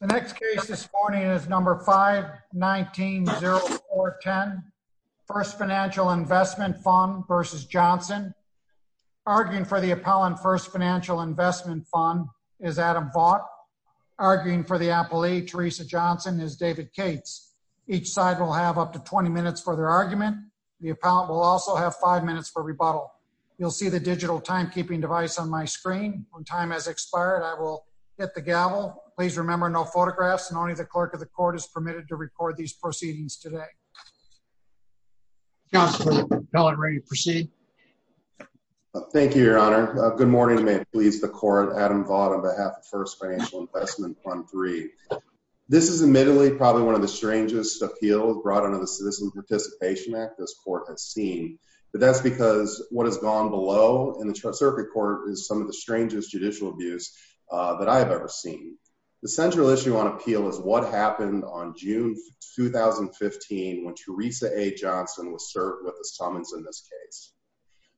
The next case this morning is number 519-0410, First Financial Investment Fund v. Johnson. Arguing for the appellant, First Financial Investment Fund, is Adam Vaught. Arguing for the appellee, Teresa Johnson, is David Cates. Each side will have up to 20 minutes for their argument. The appellant will also have 5 minutes for rebuttal. You'll see the digital timekeeping device on my screen. When time has expired, I will hit the gavel. Please remember, no photographs, and only the clerk of the court is permitted to record these proceedings today. Counselor, the appellant is ready to proceed. Thank you, Your Honor. Good morning, and may it please the court. Adam Vaught on behalf of First Financial Investment Fund III. This is admittedly probably one of the strangest appeals brought under the Citizen Participation Act this court has seen. But that's because what has gone below in the circuit court is some of the strangest judicial abuse that I have ever seen. The central issue on appeal is what happened on June 2015 when Teresa A. Johnson was served with a summons in this case.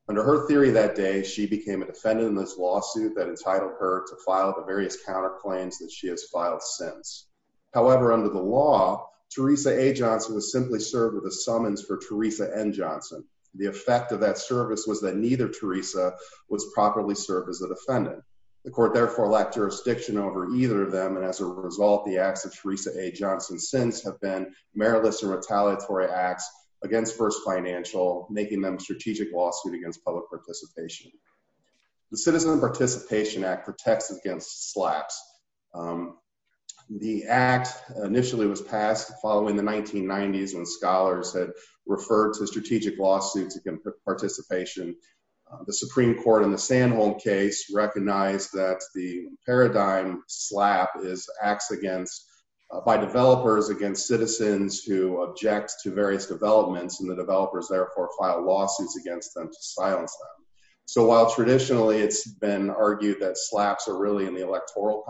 Under her theory that day, she became a defendant in this lawsuit that entitled her to file the various counterclaims that she has filed since. However, under the law, Teresa A. Johnson was simply served with a summons for Teresa N. Johnson. The effect of that service was that neither Teresa was properly served as a defendant. The court therefore lacked jurisdiction over either of them. And as a result, the acts of Teresa A. Johnson since have been meritless and retaliatory acts against First Financial, making them a strategic lawsuit against public participation. The Citizen Participation Act protects against slacks. The act initially was passed following the 1990s when scholars had referred to strategic lawsuits against participation. The Supreme Court in the Sandholm case recognized that the paradigm slap is acts against by developers against citizens who object to various developments and the developers therefore file lawsuits against them to silence them. So while traditionally it's been argued that slaps are really in the electoral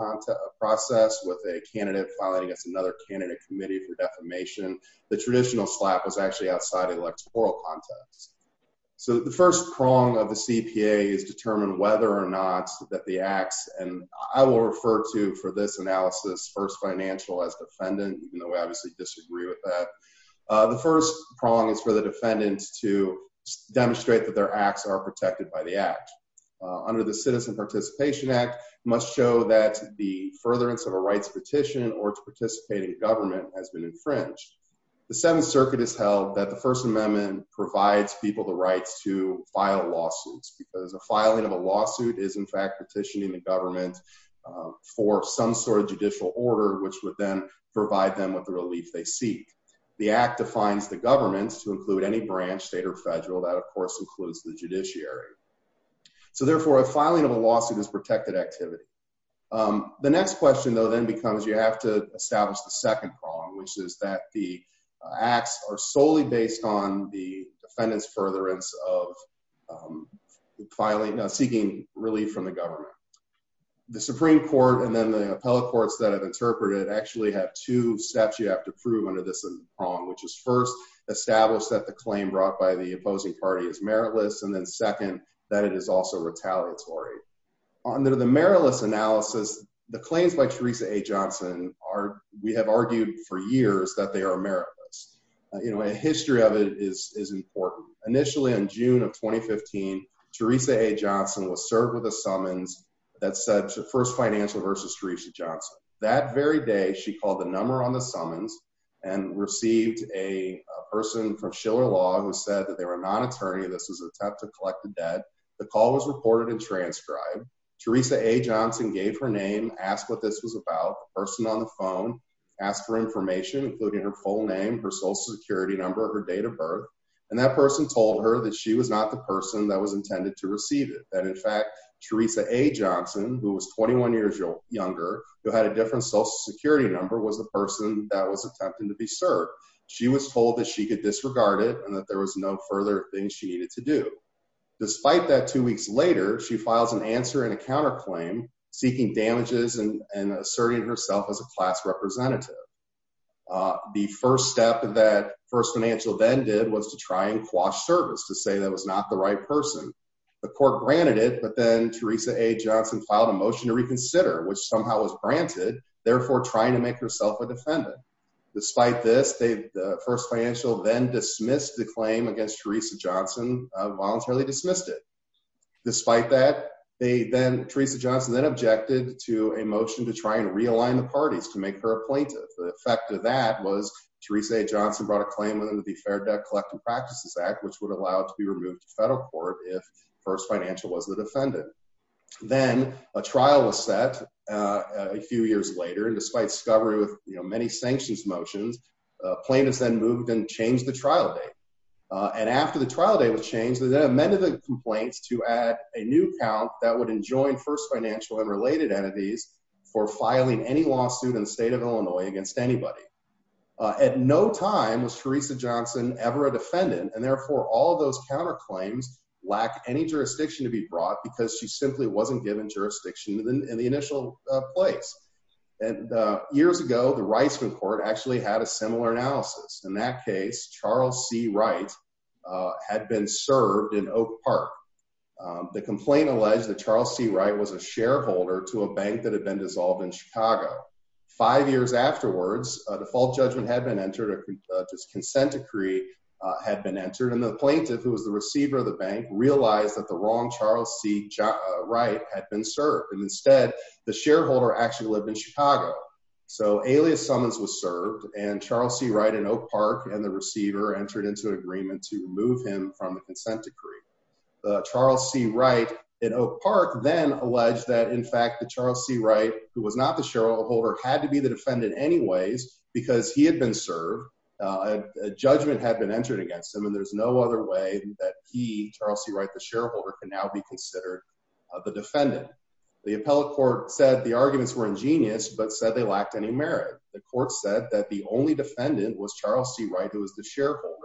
process with a candidate filing against another candidate committee for defamation, the traditional slap was actually outside electoral context. So the first prong of the CPA is determined whether or not that the acts, and I will refer to for this analysis, First Financial as defendant, even though we obviously disagree with that. The first prong is for the defendants to demonstrate that their acts are protected by the act. Under the Citizen Participation Act must show that the furtherance of a rights petition or to participate in government has been infringed. The Seventh Circuit has held that the First Amendment provides people the rights to file lawsuits because the filing of a lawsuit is in fact petitioning the government for some sort of judicial order which would then provide them with the relief they seek. The act defines the government to include any branch, state or federal, that of course includes the judiciary. So therefore a filing of a lawsuit is protected activity. The next question though then becomes you have to establish the second prong which is that the acts are solely based on the defendant's furtherance of seeking relief from the government. The Supreme Court and then the appellate courts that have interpreted actually have two steps you have to prove under this prong which is first establish that the claim brought by the opposing party is meritless and then second that it is also retaliatory. Under the meritless analysis the claims by Teresa A. Johnson are we have argued for years that they are meritless. You know a history of it is important. Initially in June of 2015 Teresa A. Johnson was served with a summons that said the first financial versus Teresa Johnson. That very day she called the number on the summons and received a person from Schiller Law who said that they were not attorney. This was an attempt to collect the debt. The call was reported and transcribed. Teresa A. Johnson gave her name, asked what this was about. The person on the phone asked for information including her full name, her social security number, her date of birth. And that person told her that she was not the person that was intended to receive it. That in fact Teresa A. Johnson who was 21 years younger who had a different social security number was the person that was attempting to be served. She was told that she could disregard it and that there was no further thing she needed to do. Despite that two weeks later she files an answer in a counterclaim seeking damages and asserting herself as a class representative. The first step that First Financial then did was to try and quash service to say that was not the right person. The court granted it but then Teresa A. Johnson filed a motion to reconsider which somehow was granted, therefore trying to make herself a defendant. Despite this, First Financial then dismissed the claim against Teresa Johnson, voluntarily dismissed it. Despite that, Teresa Johnson then objected to a motion to try and realign the parties to make her a plaintiff. The effect of that was Teresa A. Johnson brought a claim under the Fair Debt Collecting Practices Act which would allow it to be removed to federal court if First Financial was the defendant. Then a trial was set a few years later and despite discovery with many sanctions motions, plaintiffs then moved and changed the trial date. After the trial date was changed, they then amended the complaints to add a new count that would enjoin First Financial and related entities for filing any lawsuit in the state of Illinois against anybody. At no time was Teresa Johnson ever a defendant and therefore all those counterclaims lack any jurisdiction to be brought because she simply wasn't given jurisdiction in the initial place. Years ago, the Reisman Court actually had a similar analysis. In that case, Charles C. Wright had been served in Oak Park. The complaint alleged that Charles C. Wright was a shareholder to a bank that had been dissolved in Chicago. Five years afterwards, a default judgment had been entered, a consent decree had been entered and the plaintiff who was the receiver of the bank realized that the wrong Charles C. Wright had been served. Instead, the shareholder actually lived in Chicago. So, Alias Summons was served and Charles C. Wright in Oak Park and the receiver entered into an agreement to remove him from the consent decree. Charles C. Wright in Oak Park then alleged that in fact that Charles C. Wright, who was not the shareholder, had to be the defendant anyways because he had been served. A judgment had been entered against him and there's no other way that he, Charles C. Wright, the shareholder, can now be considered the defendant. The appellate court said the arguments were ingenious, but said they lacked any merit. The court said that the only defendant was Charles C. Wright, who was the shareholder.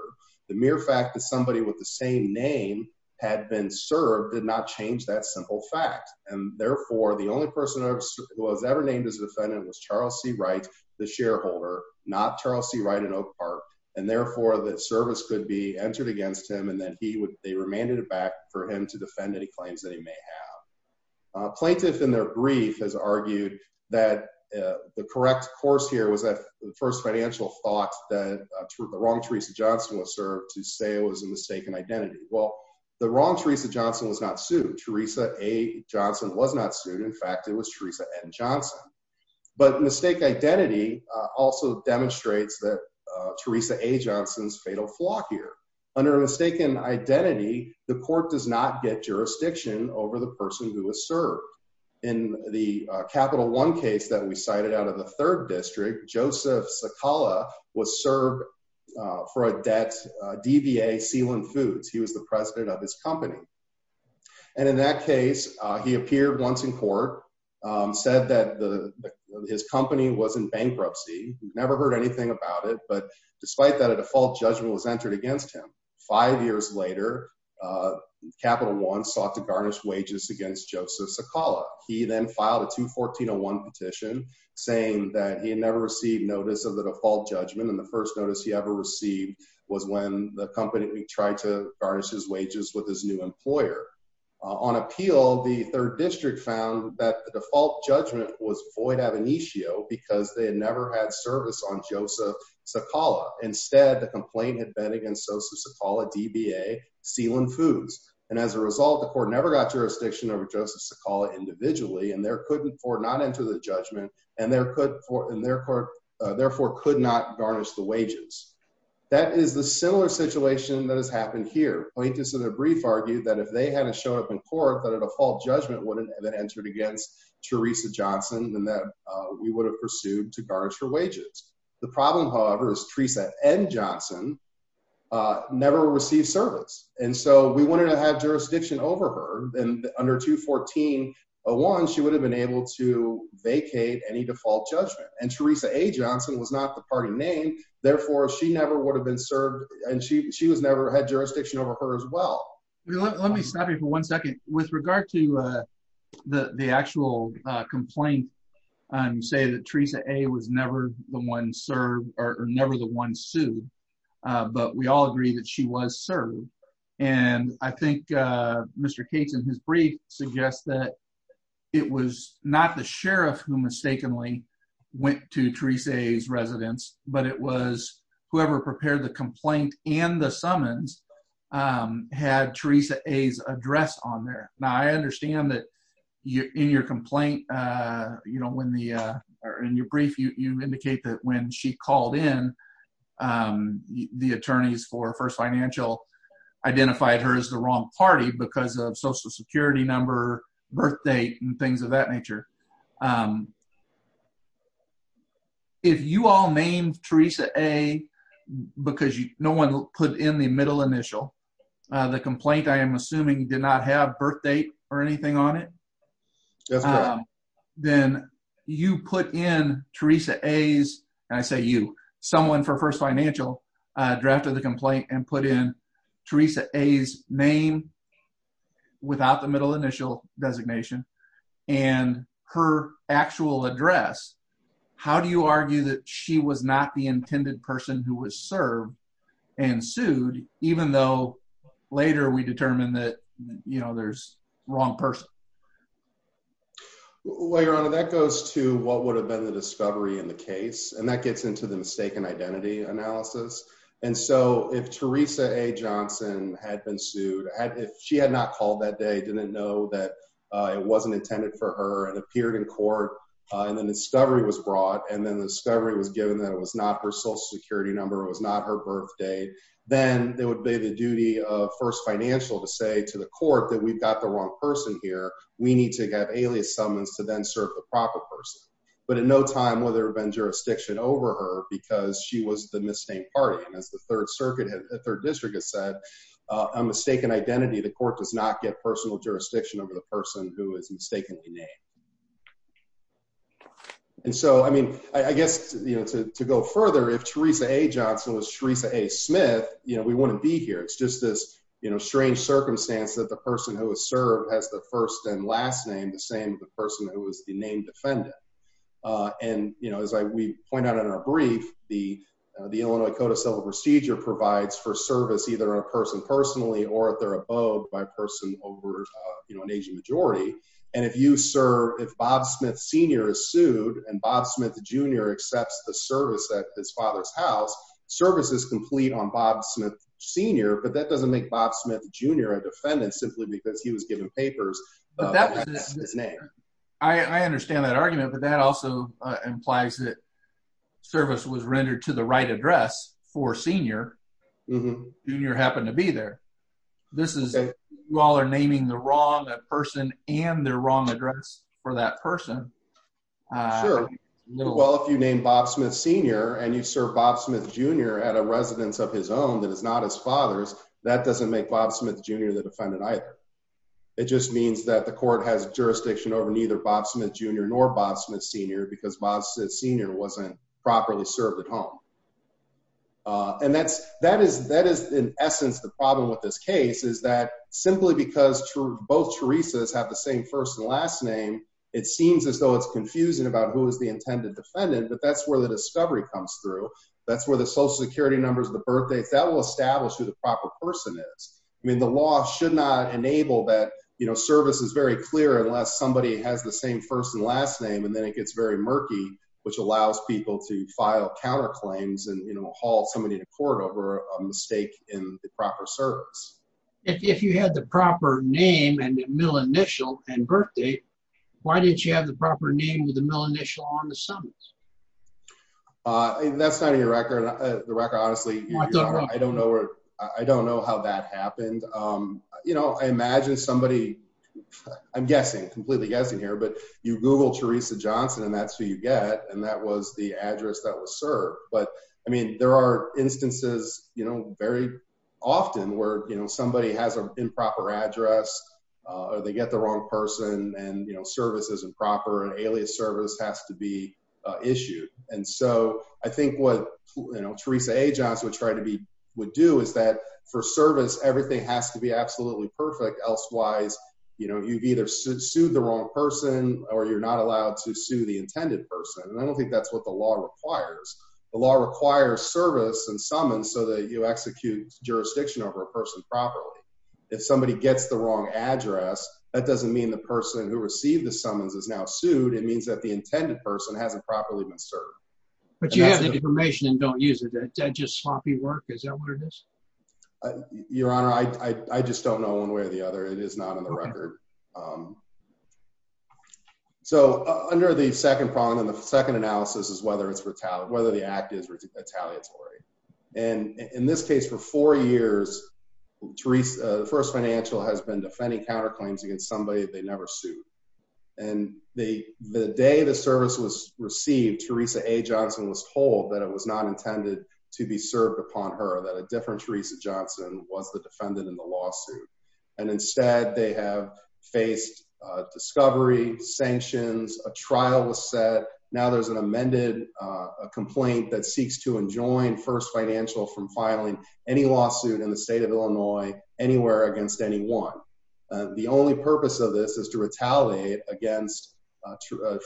The mere fact that somebody with the same name had been served did not change that simple fact. And therefore, the only person who was ever named as a defendant was Charles C. Wright, the shareholder, not Charles C. Wright in Oak Park. And therefore, the service could be entered against him and then they remanded it back for him to defend any claims that he may have. Plaintiff in their brief has argued that the correct course here was that the first financial thought that the wrong Teresa Johnson was served to say it was a mistaken identity. Well, the wrong Teresa Johnson was not sued. Teresa A. Johnson was not sued. In fact, it was Teresa N. Johnson. But mistaken identity also demonstrates that Teresa A. Johnson's fatal flaw here. Under mistaken identity, the court does not get jurisdiction over the person who was served. In the Capital One case that we cited out of the third district, Joseph Sakala was served for a debt DVA sealant foods. He was the president of his company. And in that case, he appeared once in court, said that his company was in bankruptcy. Never heard anything about it. But despite that, a default judgment was entered against him. Five years later, Capital One sought to garnish wages against Joseph Sakala. He then filed a 214-01 petition saying that he had never received notice of the default judgment. And the first notice he ever received was when the company tried to garnish his wages with his new employer. On appeal, the third district found that the default judgment was void ab initio because they had never had service on Joseph Sakala. Instead, the complaint had been against Joseph Sakala DVA sealant foods. And as a result, the court never got jurisdiction over Joseph Sakala individually. And therefore could not enter the judgment and therefore could not garnish the wages. That is the similar situation that has happened here. Plaintiffs in a brief argued that if they had to show up in court that a default judgment would have entered against Teresa Johnson, then that we would have pursued to garnish her wages. The problem, however, is Teresa N. Johnson never received service. And so we wanted to have jurisdiction over her. And under 214-01, she would have been able to vacate any default judgment. And Teresa A. Johnson was not the party name. Therefore, she never would have been served and she was never had jurisdiction over her as well. Let me stop you for one second. With regard to the actual complaint, you say that Teresa A. was never the one served or never the one sued. But we all agree that she was served. And I think Mr. Cates in his brief suggests that it was not the sheriff who mistakenly went to Teresa A.'s residence, but it was whoever prepared the complaint and the summons had Teresa A.'s address on there. Now, I understand that in your complaint, you know, in your brief, you indicate that when she called in, the attorneys for First Financial identified her as the wrong party because of Social Security number, birth date, and things of that nature. If you all named Teresa A. because no one put in the middle initial, the complaint, I am assuming, did not have birth date or anything on it. Then you put in Teresa A.'s, and I say you, someone for First Financial drafted the complaint and put in Teresa A.'s name without the middle initial designation. And her actual address, how do you argue that she was not the intended person who was served and sued, even though later we determined that, you know, there's wrong person? Well, Your Honor, that goes to what would have been the discovery in the case. And that gets into the mistaken identity analysis. And so if Teresa A. Johnson had been sued, if she had not called that day, didn't know that it wasn't intended for her, and appeared in court, and then discovery was brought, and then the discovery was given that it was not her Social Security number, it was not her birth date, then it would be the duty of First Financial to say to the court that we've got the wrong person here. We need to have alias summons to then serve the proper person. But in no time will there have been jurisdiction over her because she was the misnamed party. And as the Third Circuit, the Third District has said, a mistaken identity, the court does not get personal jurisdiction over the person who is mistakenly named. And so, I mean, I guess, you know, to go further, if Teresa A. Johnson was Teresa A. Smith, you know, we wouldn't be here. It's just this, you know, strange circumstance that the person who was served has the first and last name, the same as the person who was the named defendant. And, you know, as we point out in our brief, the Illinois Code of Civil Procedure provides for service either a person personally or at their abode by person over, you know, an aging majority. And if you serve, if Bob Smith Sr. is sued, and Bob Smith Jr. accepts the service at his father's house, service is complete on Bob Smith Sr. But that doesn't make Bob Smith Jr. a defendant simply because he was given papers by his name. I understand that argument, but that also implies that service was rendered to the right address for Sr. Jr. happened to be there. This is, you all are naming the wrong person and their wrong address for that person. Sure. Well, if you name Bob Smith Sr. and you serve Bob Smith Jr. at a residence of his own that is not his father's, that doesn't make Bob Smith Jr. the defendant either. It just means that the court has jurisdiction over neither Bob Smith Jr. nor Bob Smith Sr. because Bob Smith Sr. wasn't properly served at home. And that is, in essence, the problem with this case is that simply because both Teresas have the same first and last name, it seems as though it's confusing about who is the intended defendant, but that's where the discovery comes through. That's where the Social Security numbers, the birth dates, that will establish who the proper person is. I mean, the law should not enable that, you know, service is very clear unless somebody has the same first and last name, and then it gets very murky, which allows people to file counterclaims and, you know, haul somebody to court over a mistake in the proper service. If you had the proper name and the mill initial and birth date, why didn't you have the proper name with the mill initial on the summons? That's not in your record. The record, honestly, I don't know how that happened. You know, I imagine somebody, I'm guessing, completely guessing here, but you Google Teresa Johnson and that's who you get, and that was the address that was served. But, I mean, there are instances, you know, very often where, you know, somebody has an improper address or they get the wrong person and, you know, service isn't proper and alias service has to be issued. And so I think what, you know, Teresa A. Johnson would try to be, would do is that for service, everything has to be absolutely perfect. Elsewise, you know, you've either sued the wrong person or you're not allowed to sue the intended person. And I don't think that's what the law requires. The law requires service and summons so that you execute jurisdiction over a person properly. If somebody gets the wrong address, that doesn't mean the person who received the summons is now sued. It means that the intended person hasn't properly been served. But you have the information and don't use it. Does that just sloppy work? Is that what it is? Your Honor, I just don't know one way or the other. It is not in the record. So under the second problem, the second analysis is whether the act is retaliatory. And in this case, for four years, the first financial has been defending counterclaims against somebody they never sued. And the day the service was received, Teresa A. Johnson was told that it was not intended to be served upon her, that a different Teresa Johnson was the defendant in the lawsuit. And instead they have faced discovery, sanctions, a trial was set. Now there's an amended complaint that seeks to enjoin first financial from filing any lawsuit in the state of Illinois anywhere against anyone. The only purpose of this is to retaliate against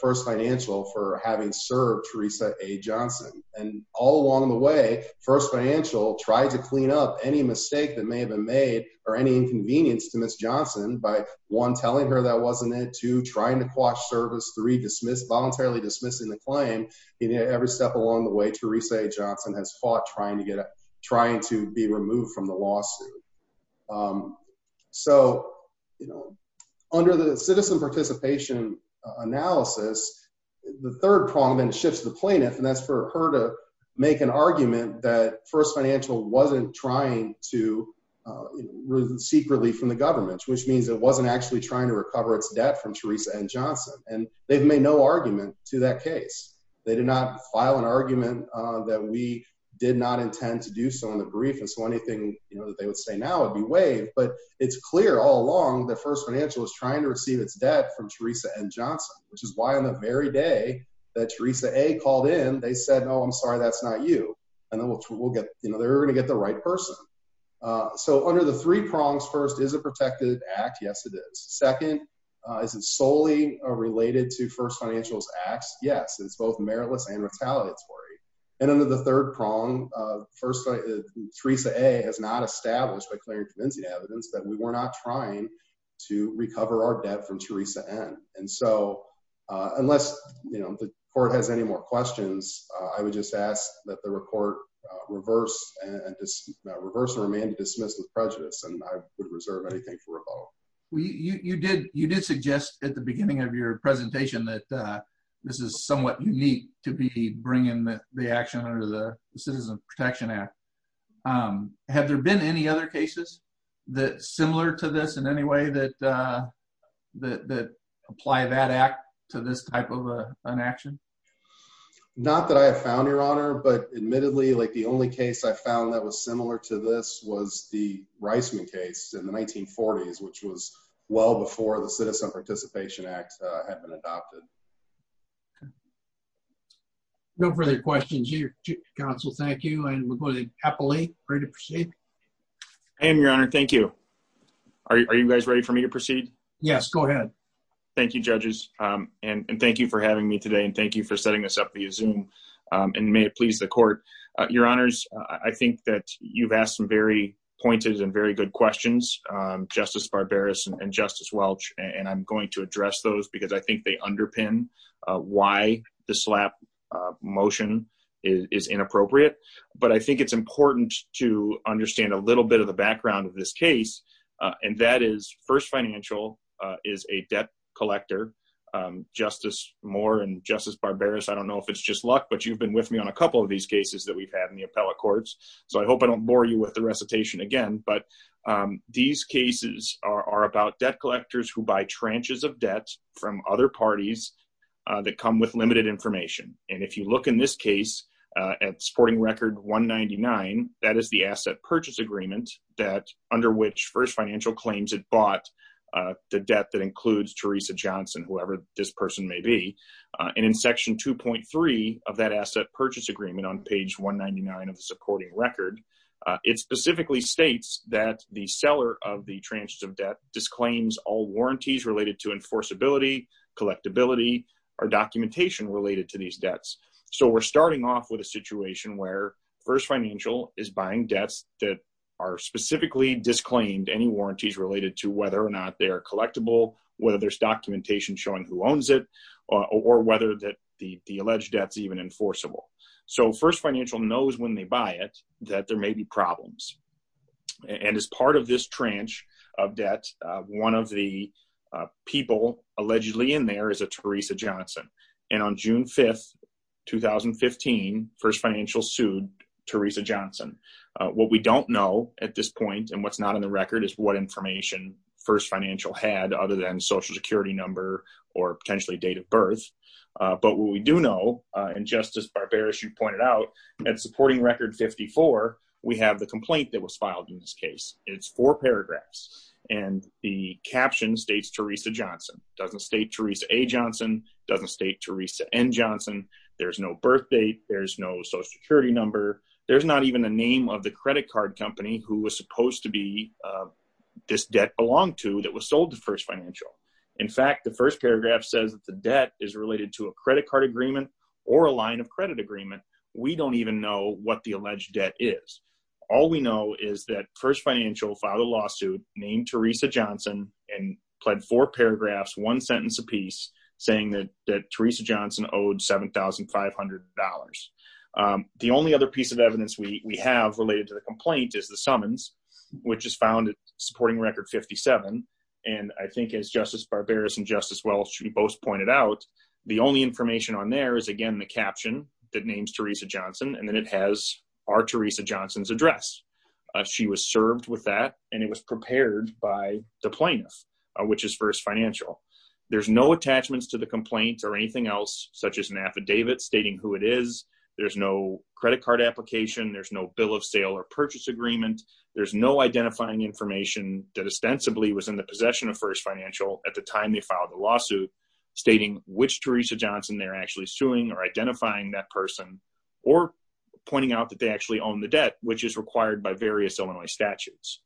first financial for having served Teresa A. Johnson. And all along the way, first financial tried to clean up any mistake that may have been made or any inconvenience to Ms. Johnson by, one, telling her that wasn't it, two, trying to quash service, three, voluntarily dismissing the claim. Every step along the way, Teresa A. Johnson has fought trying to be removed from the lawsuit. So, you know, under the citizen participation analysis, the third prong then shifts to the plaintiff, and that's for her to make an argument that first financial wasn't trying to seek relief from the government, which means it wasn't actually trying to recover its debt from Teresa A. Johnson. And they've made no argument to that case. They did not file an argument that we did not intend to do so in the brief. And so anything that they would say now would be waived. But it's clear all along that first financial is trying to receive its debt from Teresa N. Johnson, which is why on the very day that Teresa A. called in, they said, no, I'm sorry, that's not you. And then we'll get, you know, they're going to get the right person. So under the three prongs, first, is it protected act? Yes, it is. Second, is it solely related to first financial's acts? Yes, it's both meritless and retaliatory. And under the third prong, Teresa A. has not established by clearing convincing evidence that we were not trying to recover our debt from Teresa N. And so unless, you know, the court has any more questions, I would just ask that the report reverse and remain dismissed with prejudice, and I would reserve anything for rebuttal. You did suggest at the beginning of your presentation that this is somewhat unique to be bringing the action under the Citizen Protection Act. Have there been any other cases that are similar to this in any way that apply that act to this type of an action? Not that I have found, Your Honor. But admittedly, like the only case I found that was similar to this was the Reisman case in the 1940s, which was well before the Citizen Participation Act had been adopted. No further questions here. Counsel, thank you. And we're going to happily proceed. And, Your Honor, thank you. Are you guys ready for me to proceed? Yes, go ahead. Thank you, judges. And thank you for having me today. And thank you for setting this up via Zoom. And may it please the court. Your Honors, I think that you've asked some very pointed and very good questions. Justice Barberis and Justice Welch, and I'm going to address those because I think they underpin why the slap motion is inappropriate. But I think it's important to understand a little bit of the background of this case. And that is First Financial is a debt collector, Justice Moore and Justice Barberis. I don't know if it's just luck, but you've been with me on a couple of these cases that we've had in the appellate courts. So I hope I don't bore you with the recitation again. But these cases are about debt collectors who buy tranches of debt from other parties that come with limited information. And if you look in this case at supporting record 199, that is the asset purchase agreement that under which First Financial claims it bought the debt that includes Teresa Johnson, whoever this person may be. And in section 2.3 of that asset purchase agreement on page 199 of the supporting record, it specifically states that the seller of the tranches of debt disclaims all warranties related to enforceability, collectability, or documentation related to these debts. So we're starting off with a situation where First Financial is buying debts that are specifically disclaimed any warranties related to whether or not they are collectible, whether there's documentation showing who owns it, or whether the alleged debt is even enforceable. So First Financial knows when they buy it, that there may be problems. And as part of this tranche of debt, one of the people allegedly in there is a Teresa Johnson. And on June 5, 2015, First Financial sued Teresa Johnson. What we don't know at this point and what's not in the record is what information First Financial had other than social security number or potentially date of birth. But what we do know, and just as Barbara, as you pointed out, at supporting record 54, we have the complaint that was filed in this case. It's four paragraphs. And the caption states Teresa Johnson, doesn't state Teresa A. Johnson, doesn't state Teresa N. Johnson. There's no birth date. There's no social security number. There's not even a name of the credit card company who was supposed to be this debt belonged to that was sold to First Financial. In fact, the first paragraph says that the debt is related to a credit card agreement or a line of credit agreement. We don't even know what the alleged debt is. All we know is that First Financial filed a lawsuit named Teresa Johnson and pled four paragraphs, one sentence apiece, saying that that Teresa Johnson owed $7,500. The only other piece of evidence we have related to the complaint is the summons, which is found supporting record 57. And I think as Justice Barbara and Justice Welch both pointed out, the only information on there is, again, the caption that names Teresa Johnson. And then it has our Teresa Johnson's address. She was served with that and it was prepared by the plaintiff, which is First Financial. There's no attachments to the complaint or anything else, such as an affidavit stating who it is. There's no credit card application. There's no bill of sale or purchase agreement. There's no identifying information that ostensibly was in the possession of First Financial at the time they filed the lawsuit, stating which Teresa Johnson they're actually suing or identifying that person or pointing out that they actually own the debt, which is required by various Illinois statutes.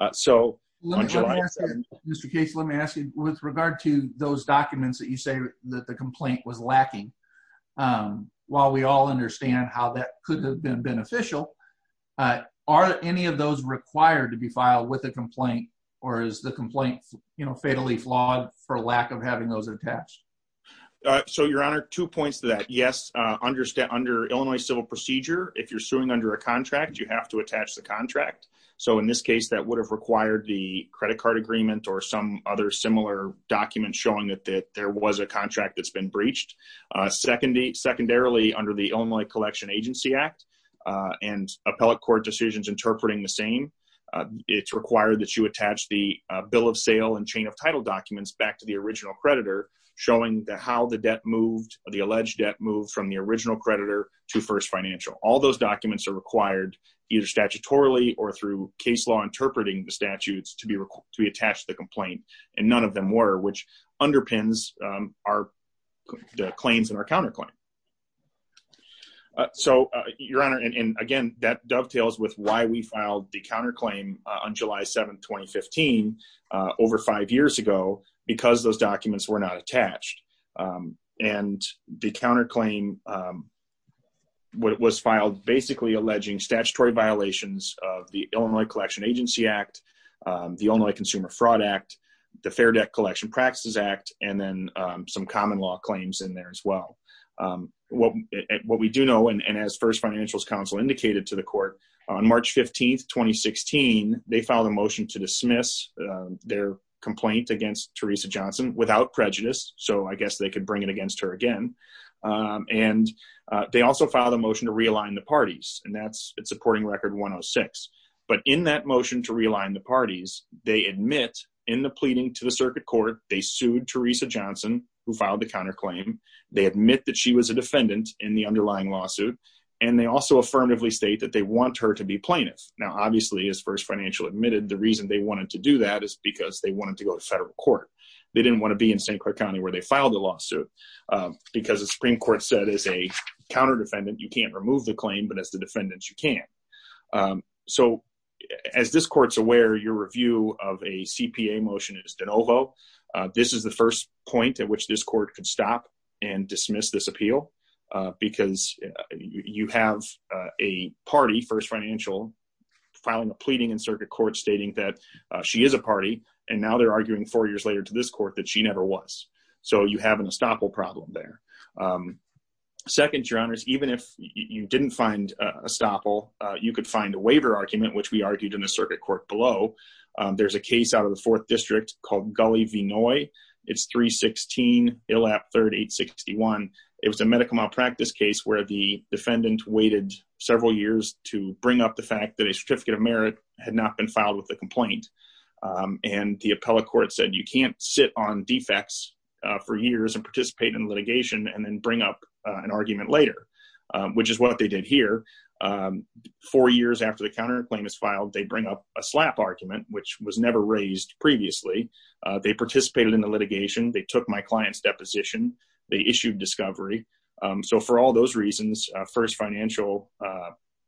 Mr. Case, let me ask you, with regard to those documents that you say that the complaint was lacking, while we all understand how that could have been beneficial, are any of those required to be filed with a complaint or is the complaint fatally flawed for lack of having those attached? So, Your Honor, two points to that. Yes, under Illinois civil procedure, if you're suing under a contract, you have to attach the contract. So, in this case, that would have required the credit card agreement or some other similar document showing that there was a contract that's been breached. Secondarily, under the Illinois Collection Agency Act and appellate court decisions interpreting the same, it's required that you attach the bill of sale and chain of title documents back to the original creditor, showing how the debt moved, the alleged debt moved from the original creditor to First Financial. All those documents are required either statutorily or through case law interpreting the statutes to be attached to the complaint, and none of them were, which underpins the claims in our counterclaim. So, Your Honor, and again, that dovetails with why we filed the counterclaim on July 7, 2015, over five years ago, because those documents were not attached, and the counterclaim was filed basically alleging statutory violations of the Illinois Collection Agency Act, the Illinois Consumer Fraud Act, the Fair Debt Collection Practices Act, and then some common law claims in there as well. What we do know, and as First Financial's counsel indicated to the court, on March 15, 2016, they filed a motion to dismiss their complaint against Teresa Johnson without prejudice, so I guess they could bring it against her again. And they also filed a motion to realign the parties, and that's supporting Record 106. But in that motion to realign the parties, they admit in the pleading to the circuit court, they sued Teresa Johnson, who filed the counterclaim. They admit that she was a defendant in the underlying lawsuit, and they also affirmatively state that they want her to be plaintiff. Now, obviously, as First Financial admitted, the reason they wanted to do that is because they wanted to go to federal court. They didn't want to be in St. Croix County, where they filed the lawsuit, because the Supreme Court said, as a counterdefendant, you can't remove the claim, but as the defendant, you can. So as this court's aware, your review of a CPA motion is de novo. This is the first point at which this court could stop and dismiss this appeal, because you have a party, First Financial, filing a pleading in circuit court stating that she is a party, and now they're arguing four years later to this court that she never was. So you have an estoppel problem there. Second, Your Honors, even if you didn't find estoppel, you could find a waiver argument, which we argued in the circuit court below. There's a case out of the Fourth District called Gully v. Noy. It's 316 ILAP 3861. It was a medical malpractice case where the defendant waited several years to bring up the fact that a certificate of merit had not been filed with the complaint. And the appellate court said you can't sit on defects for years and participate in litigation and then bring up an argument later, which is what they did here. Four years after the counterclaim is filed, they bring up a SLAPP argument, which was never raised previously. They participated in the litigation. They took my client's deposition. They issued discovery. So for all those reasons, First Financial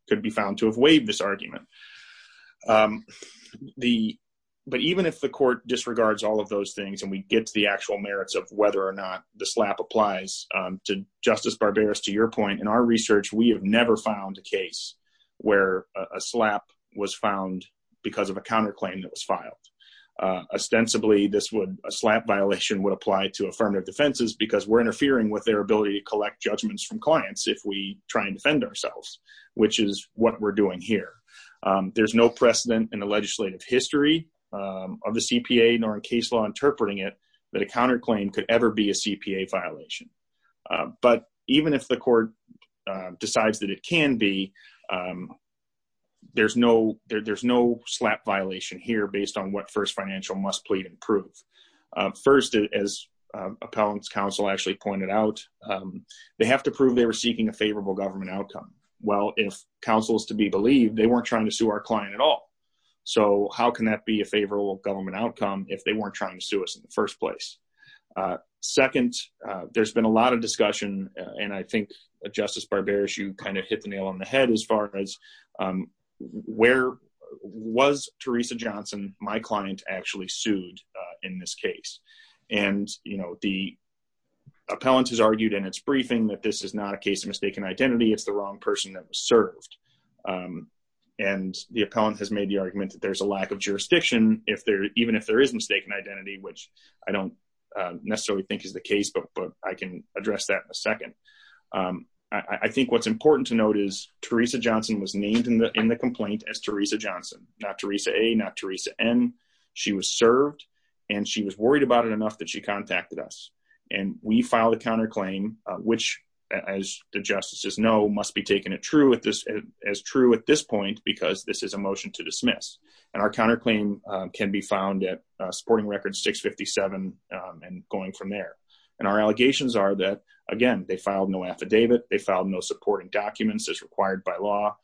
could be found to have waived this argument. But even if the court disregards all of those things and we get to the actual merits of whether or not the SLAPP applies, Justice Barberis, to your point, in our research, we have never found a case where a SLAPP was found because of a counterclaim that was filed. Ostensibly, a SLAPP violation would apply to affirmative defenses because we're interfering with their ability to collect judgments from clients if we try and defend ourselves, which is what we're doing here. There's no precedent in the legislative history of the CPA nor in case law interpreting it that a counterclaim could ever be a CPA violation. But even if the court decides that it can be, there's no SLAPP violation here based on what First Financial must plead and prove. First, as Appellant's counsel actually pointed out, they have to prove they were seeking a favorable government outcome. Well, if counsel is to be believed, they weren't trying to sue our client at all. So how can that be a favorable government outcome if they weren't trying to sue us in the first place? Second, there's been a lot of discussion, and I think Justice Barberis, you kind of hit the nail on the head as far as where was Teresa Johnson, my client, actually sued in this case? And, you know, the Appellant has argued in its briefing that this is not a case of mistaken identity. It's the wrong person that was served. And the Appellant has made the argument that there's a lack of jurisdiction, even if there is mistaken identity, which I don't necessarily think is the case, but I can address that in a second. I think what's important to note is Teresa Johnson was named in the complaint as Teresa Johnson, not Teresa A, not Teresa N. She was served, and she was worried about it enough that she contacted us, and we filed a counterclaim, which, as the justices know, must be taken as true at this point because this is a motion to dismiss. And our counterclaim can be found at Supporting Record 657 and going from there. And our allegations are that, again, they filed no affidavit. They filed no supporting documents as required by law.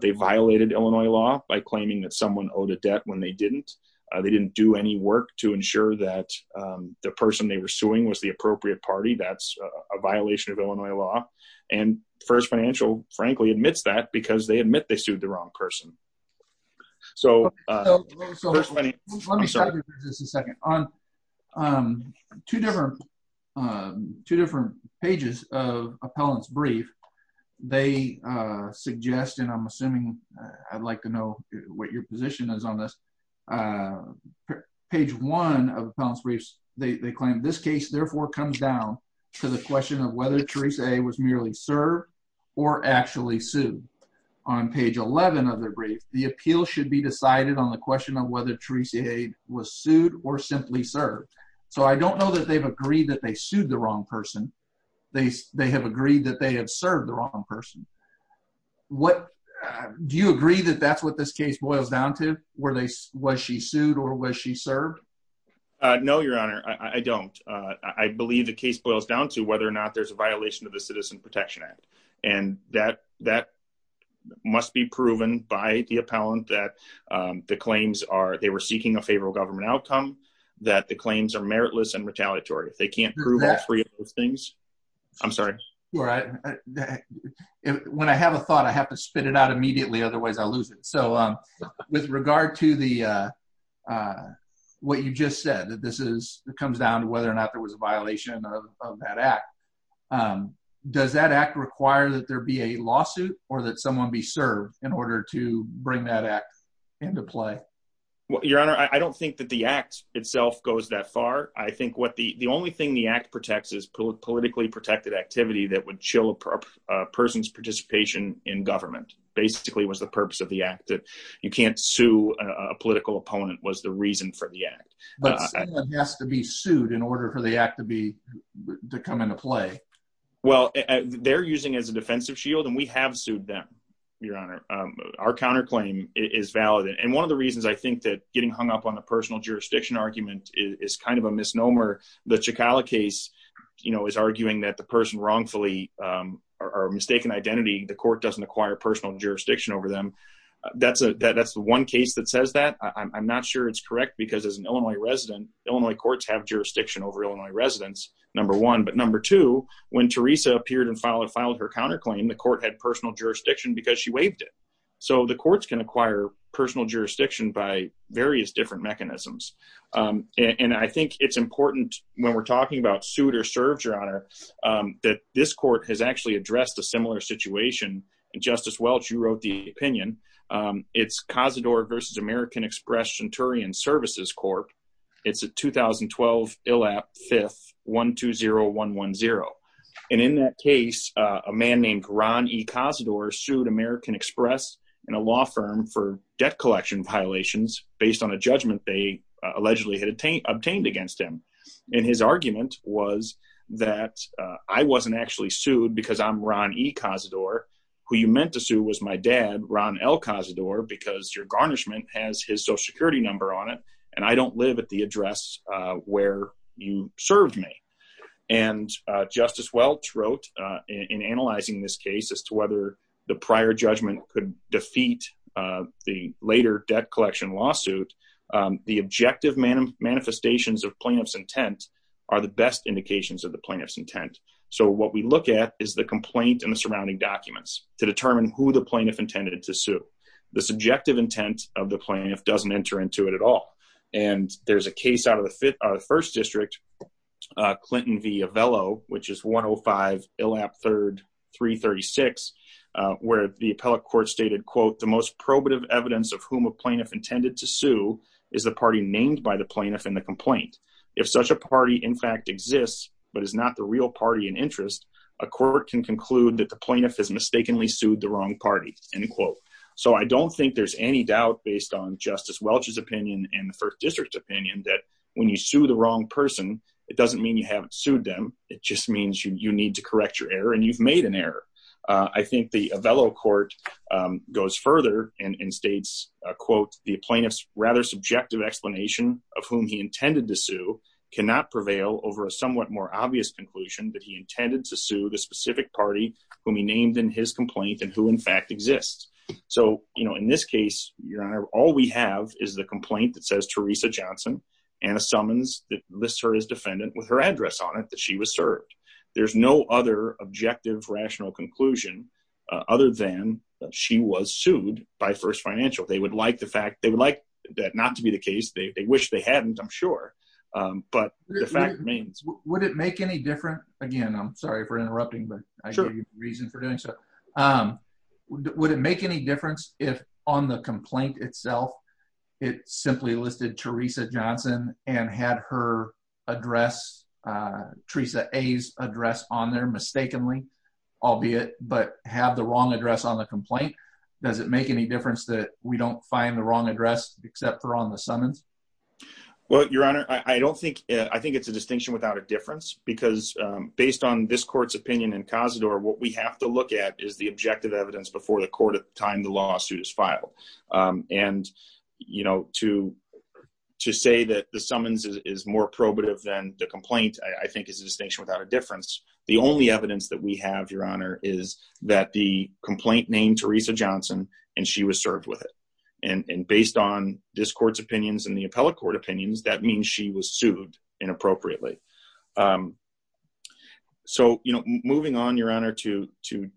They violated Illinois law by claiming that someone owed a debt when they didn't. They didn't do any work to ensure that the person they were suing was the appropriate party. That's a violation of Illinois law. And First Financial, frankly, admits that because they admit they sued the wrong person. Let me stop you for just a second. On two different pages of appellant's brief, they suggest, and I'm assuming I'd like to know what your position is on this, page one of appellant's briefs, they claim this case, therefore, comes down to the question of whether Teresa A was merely served or actually sued. On page 11 of their brief, the appeal should be decided on the question of whether Teresa A was sued or simply served. So I don't know that they've agreed that they sued the wrong person. They have agreed that they have served the wrong person. Do you agree that that's what this case boils down to? Was she sued or was she served? No, Your Honor, I don't. I believe the case boils down to whether or not there's a violation of the Citizen Protection Act. And that must be proven by the appellant that they were seeking a favorable government outcome, that the claims are meritless and retaliatory. They can't prove all three of those things. I'm sorry. When I have a thought, I have to spit it out immediately. Otherwise, I'll lose it. So with regard to what you just said, that this comes down to whether or not there was a violation of that act. Does that act require that there be a lawsuit or that someone be served in order to bring that act into play? Your Honor, I don't think that the act itself goes that far. I think the only thing the act protects is politically protected activity that would chill a person's participation in government. Basically, it was the purpose of the act that you can't sue a political opponent was the reason for the act. But someone has to be sued in order for the act to come into play. Well, they're using it as a defensive shield and we have sued them, Your Honor. Our counterclaim is valid. And one of the reasons I think that getting hung up on a personal jurisdiction argument is kind of a misnomer. The Chicala case is arguing that the person wrongfully or mistaken identity, the court doesn't acquire personal jurisdiction over them. That's the one case that says that. I'm not sure it's correct because as an Illinois resident, Illinois courts have jurisdiction over Illinois residents, number one. But number two, when Teresa appeared and filed her counterclaim, the court had personal jurisdiction because she waived it. So the courts can acquire personal jurisdiction by various different mechanisms. And I think it's important when we're talking about sued or served, Your Honor, that this court has actually addressed a similar situation. And Justice Welch, you wrote the opinion. It's Cazador versus American Express Centurion Services Corp. It's a 2012 ILAP 5th 120110. And in that case, a man named Ron E. Cazador sued American Express and a law firm for debt collection violations based on a judgment they allegedly had obtained against him. And his argument was that I wasn't actually sued because I'm Ron E. Cazador. Who you meant to sue was my dad, Ron L. Cazador, because your garnishment has his Social Security number on it. And I don't live at the address where you served me. And Justice Welch wrote in analyzing this case as to whether the prior judgment could defeat the later debt collection lawsuit. The objective manifestations of plaintiff's intent are the best indications of the plaintiff's intent. So what we look at is the complaint and the surrounding documents to determine who the plaintiff intended to sue. The subjective intent of the plaintiff doesn't enter into it at all. And there's a case out of the 1st District, Clinton v. Avello, which is 105 ILAP 3rd 336. Where the appellate court stated, quote, the most probative evidence of whom a plaintiff intended to sue is the party named by the plaintiff in the complaint. If such a party in fact exists, but is not the real party in interest, a court can conclude that the plaintiff has mistakenly sued the wrong party, end quote. So I don't think there's any doubt based on Justice Welch's opinion and the 1st District's opinion that when you sue the wrong person, it doesn't mean you haven't sued them. It just means you need to correct your error and you've made an error. I think the Avello court goes further and states, quote, the plaintiff's rather subjective explanation of whom he intended to sue cannot prevail over a somewhat more obvious conclusion that he intended to sue the specific party whom he named in his complaint and who in fact exists. So, you know, in this case, your honor, all we have is the complaint that says Teresa Johnson and a summons that lists her as defendant with her address on it that she was served. There's no other objective rational conclusion other than that she was sued by First Financial. They would like the fact, they would like that not to be the case. They wish they hadn't, I'm sure. But the fact remains. Would it make any difference? Again, I'm sorry for interrupting, but I give you a reason for doing so. Would it make any difference if on the complaint itself, it simply listed Teresa Johnson and had her address, Teresa A's address on there mistakenly, albeit, but have the wrong address on the complaint? Does it make any difference that we don't find the wrong address except for on the summons? Well, your honor, I don't think, I think it's a distinction without a difference because based on this court's opinion in Cazador, what we have to look at is the objective evidence before the court at the time the lawsuit is filed. And, you know, to say that the summons is more probative than the complaint, I think is a distinction without a difference. The only evidence that we have, your honor, is that the complaint named Teresa Johnson and she was served with it. And based on this court's opinions and the appellate court opinions, that means she was sued inappropriately. So, you know, moving on, your honor, to, to,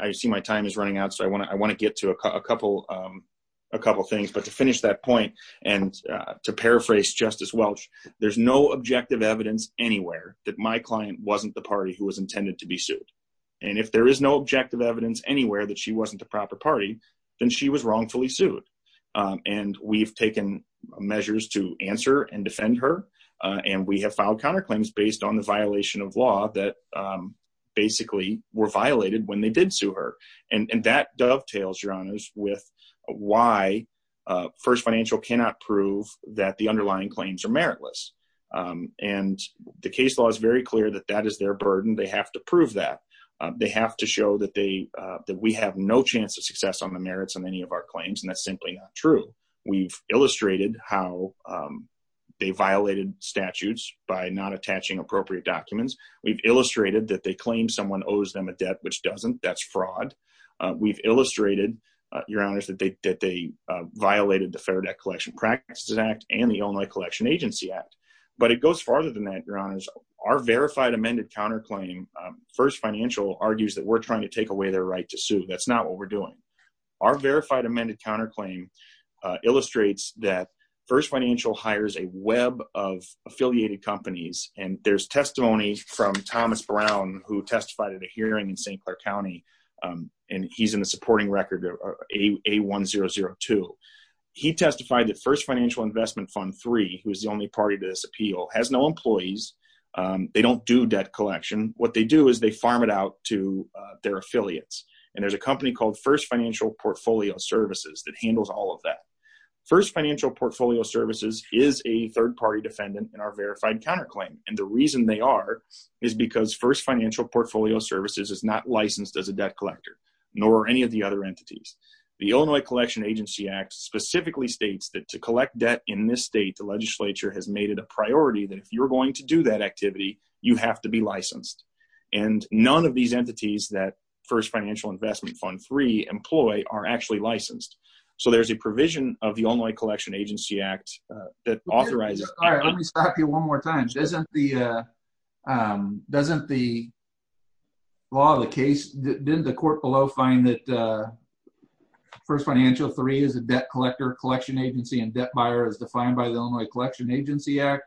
I see my time is running out, so I want to, I want to get to a couple, a couple of things. But to finish that point and to paraphrase Justice Welch, there's no objective evidence anywhere that my client wasn't the party who was intended to be sued. And if there is no objective evidence anywhere that she wasn't the proper party, then she was wrongfully sued. And we've taken measures to answer and defend her. And we have filed counterclaims based on the violation of law that basically were violated when they did sue her. And that dovetails, your honors, with why First Financial cannot prove that the underlying claims are meritless. And the case law is very clear that that is their burden. They have to prove that. They have to show that they, that we have no chance of success on the merits on any of our claims, and that's simply not true. We've illustrated how they violated statutes by not attaching appropriate documents. We've illustrated that they claim someone owes them a debt, which doesn't. That's fraud. We've illustrated, your honors, that they, that they violated the Federal Debt Collection Practices Act and the Illinois Collection Agency Act. But it goes farther than that, your honors. Our verified amended counterclaim, First Financial argues that we're trying to take away their right to sue. That's not what we're doing. Our verified amended counterclaim illustrates that First Financial hires a web of affiliated companies. And there's testimony from Thomas Brown, who testified at a hearing in St. Clair County. And he's in the supporting record, A1002. He testified that First Financial Investment Fund III, who is the only party to this appeal, has no employees. They don't do debt collection. What they do is they farm it out to their affiliates. And there's a company called First Financial Portfolio Services that handles all of that. First Financial Portfolio Services is a third-party defendant in our verified counterclaim. And the reason they are is because First Financial Portfolio Services is not licensed as a debt collector, nor are any of the other entities. The Illinois Collection Agency Act specifically states that to collect debt in this state, the legislature has made it a priority that if you're going to do that activity, you have to be licensed. And none of these entities that First Financial Investment Fund III employ are actually licensed. So there's a provision of the Illinois Collection Agency Act that authorizes... Let me stop you one more time. Doesn't the law of the case, didn't the court below find that First Financial III is a debt collector, collection agency, and debt buyer as defined by the Illinois Collection Agency Act?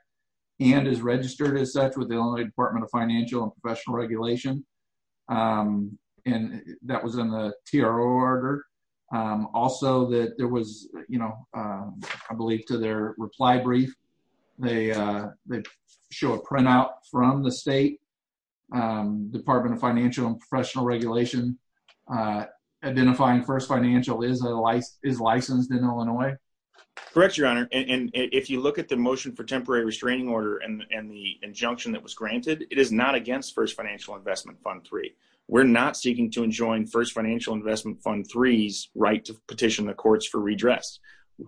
And is registered as such with the Illinois Department of Financial and Professional Regulation? And that was in the TRO order. Also, there was, I believe, to their reply brief, they show a printout from the state, Department of Financial and Professional Regulation, identifying First Financial is licensed in Illinois? Correct, Your Honor. And if you look at the motion for temporary restraining order and the injunction that was granted, it is not against First Financial Investment Fund III. We're not seeking to enjoin First Financial Investment Fund III's right to petition the courts for redress.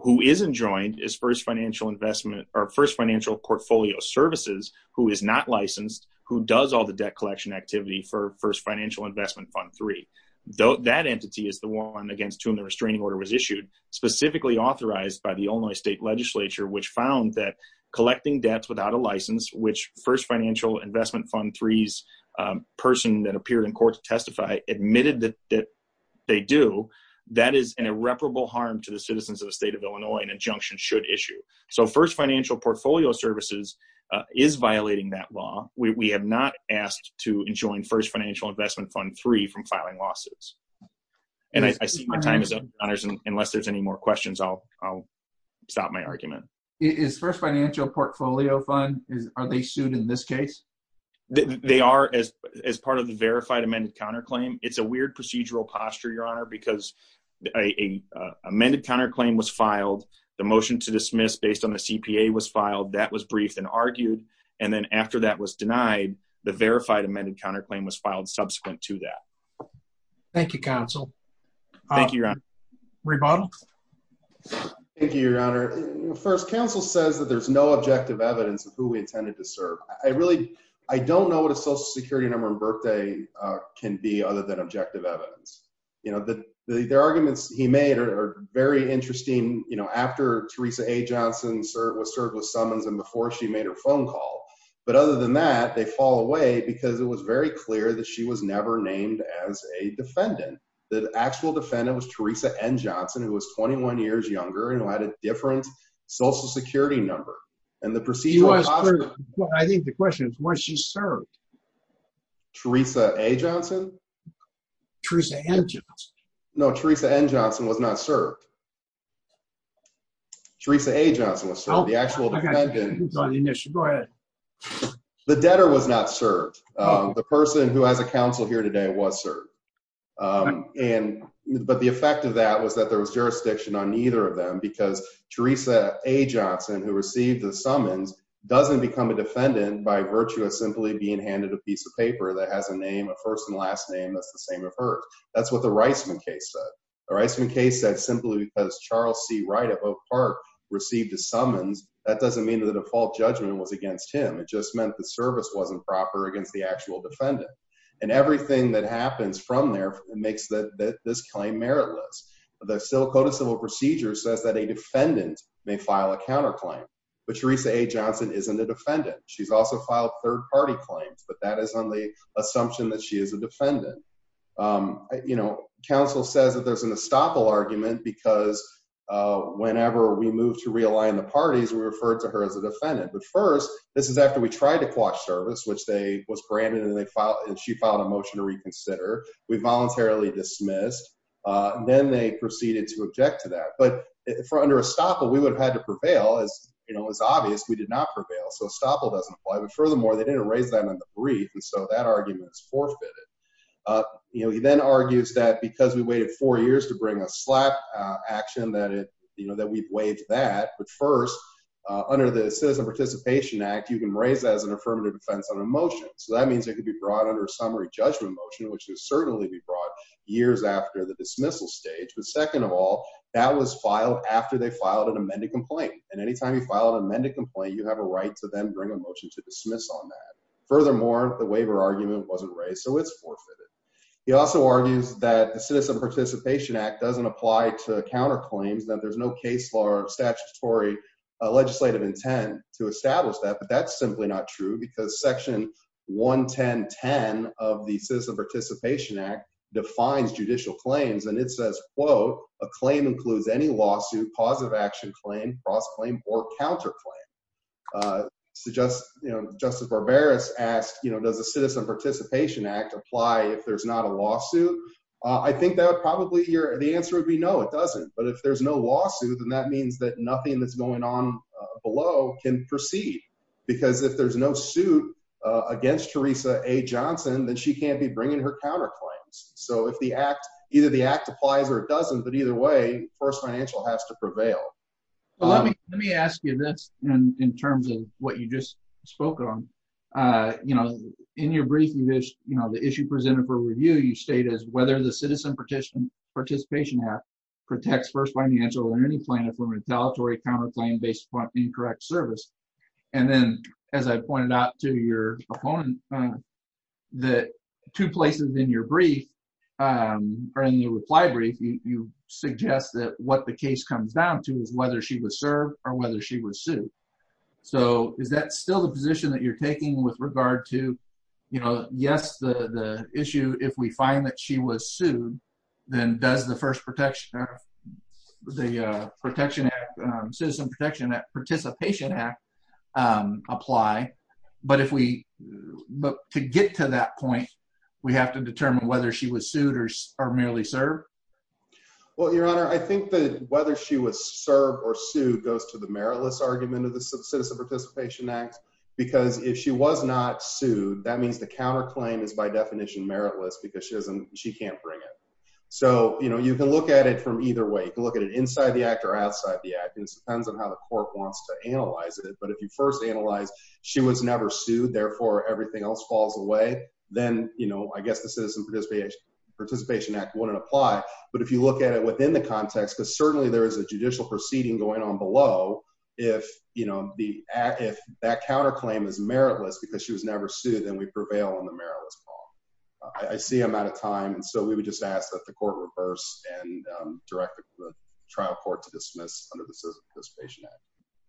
Who isn't joined is First Financial Investment or First Financial Portfolio Services, who is not licensed, who does all the debt collection activity for First Financial Investment Fund III. That entity is the one against whom the restraining order was issued, specifically authorized by the Illinois State Legislature, which found that collecting debts without a license, which First Financial Investment Fund III's person that appeared in court to testify admitted that they do, that is an irreparable harm to the citizens of the state of Illinois and injunction should issue. So First Financial Portfolio Services is violating that law. We have not asked to enjoin First Financial Investment Fund III from filing losses. And I see my time is up. Unless there's any more questions, I'll stop my argument. Is First Financial Portfolio Fund, are they sued in this case? They are as part of the verified amended counterclaim. It's a weird procedural posture, Your Honor, because a amended counterclaim was filed. The motion to dismiss based on the CPA was filed. That was briefed and argued. And then after that was denied, the verified amended counterclaim was filed subsequent to that. Thank you, Counsel. Thank you, Your Honor. First, counsel says that there's no objective evidence of who we intended to serve. I really, I don't know what a social security number and birthday can be other than objective evidence. You know, the arguments he made are very interesting. You know, after Teresa A. Johnson was served with summons and before she made her phone call. But other than that, they fall away because it was very clear that she was never named as a defendant. The actual defendant was Teresa N. Johnson, who was 21 years younger and who had a different social security number. I think the question is why she served. Teresa A. Johnson? Teresa N. Johnson. No, Teresa N. Johnson was not served. Teresa A. Johnson was served. The actual defendant. Go ahead. The debtor was not served. The person who has a counsel here today was served. But the effect of that was that there was jurisdiction on either of them because Teresa A. Johnson, who received the summons, doesn't become a defendant by virtue of simply being handed a piece of paper that has a name, a first and last name that's the same of her. That's what the Reisman case said. The Reisman case said simply because Charles C. Wright of Oak Park received a summons, that doesn't mean that the default judgment was against him. It just meant the service wasn't proper against the actual defendant. And everything that happens from there makes this claim meritless. The Sillicota Civil Procedure says that a defendant may file a counterclaim. But Teresa A. Johnson isn't a defendant. She's also filed third-party claims, but that is on the assumption that she is a defendant. You know, counsel says that there's an estoppel argument because whenever we move to realign the parties, we refer to her as a defendant. But first, this is after we tried to quash service, which they was branded and she filed a motion to reconsider. We voluntarily dismissed. Then they proceeded to object to that. But under estoppel, we would have had to prevail. It's obvious we did not prevail, so estoppel doesn't apply. But furthermore, they didn't raise that in the brief, and so that argument is forfeited. He then argues that because we waited four years to bring a slap action, that we've waived that. But first, under the Citizen Participation Act, you can raise that as an affirmative defense on a motion. So that means it could be brought under a summary judgment motion, which would certainly be brought years after the dismissal stage. But second of all, that was filed after they filed an amended complaint. And anytime you file an amended complaint, you have a right to then bring a motion to dismiss on that. Furthermore, the waiver argument wasn't raised, so it's forfeited. He also argues that the Citizen Participation Act doesn't apply to counterclaims, that there's no case law or statutory legislative intent to establish that. But that's simply not true because Section 11010 of the Citizen Participation Act defines judicial claims, and it says, quote, a claim includes any lawsuit, positive action claim, cross-claim, or counterclaim. Justice Barberis asked, does the Citizen Participation Act apply if there's not a lawsuit? I think that probably the answer would be no, it doesn't. But if there's no lawsuit, then that means that nothing that's going on below can proceed. Because if there's no suit against Theresa A. Johnson, then she can't be bringing her counterclaims. So either the act applies or it doesn't, but either way, First Financial has to prevail. Well, let me ask you this in terms of what you just spoke on. In your brief, the issue presented for review, you state as whether the Citizen Participation Act protects First Financial or any plaintiff from retaliatory counterclaim based upon incorrect service. And then, as I pointed out to your opponent, the two places in your brief, or in your reply brief, you suggest that what the case comes down to is whether she was served or whether she was sued. So is that still the position that you're taking with regard to, you know, yes, the issue, if we find that she was sued, then does the first protection of the Citizen Participation Act apply? But to get to that point, we have to determine whether she was sued or merely served? Well, Your Honor, I think that whether she was served or sued goes to the meritless argument of the Citizen Participation Act. Because if she was not sued, that means the counterclaim is by definition meritless because she can't bring it. So, you know, you can look at it from either way. You can look at it inside the act or outside the act. It depends on how the court wants to analyze it. But if you first analyze she was never sued, therefore everything else falls away, then, you know, I guess the Citizen Participation Act wouldn't apply. But if you look at it within the context, because certainly there is a judicial proceeding going on below, if, you know, if that counterclaim is meritless because she was never sued, then we prevail on the meritless law. I see I'm out of time, and so we would just ask that the court reverse and direct the trial court to dismiss under the Citizen Participation Act.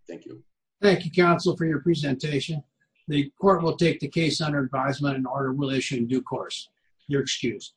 Thank you. Thank you, counsel, for your presentation. The court will take the case under advisement and order will issue in due course. Your excuse.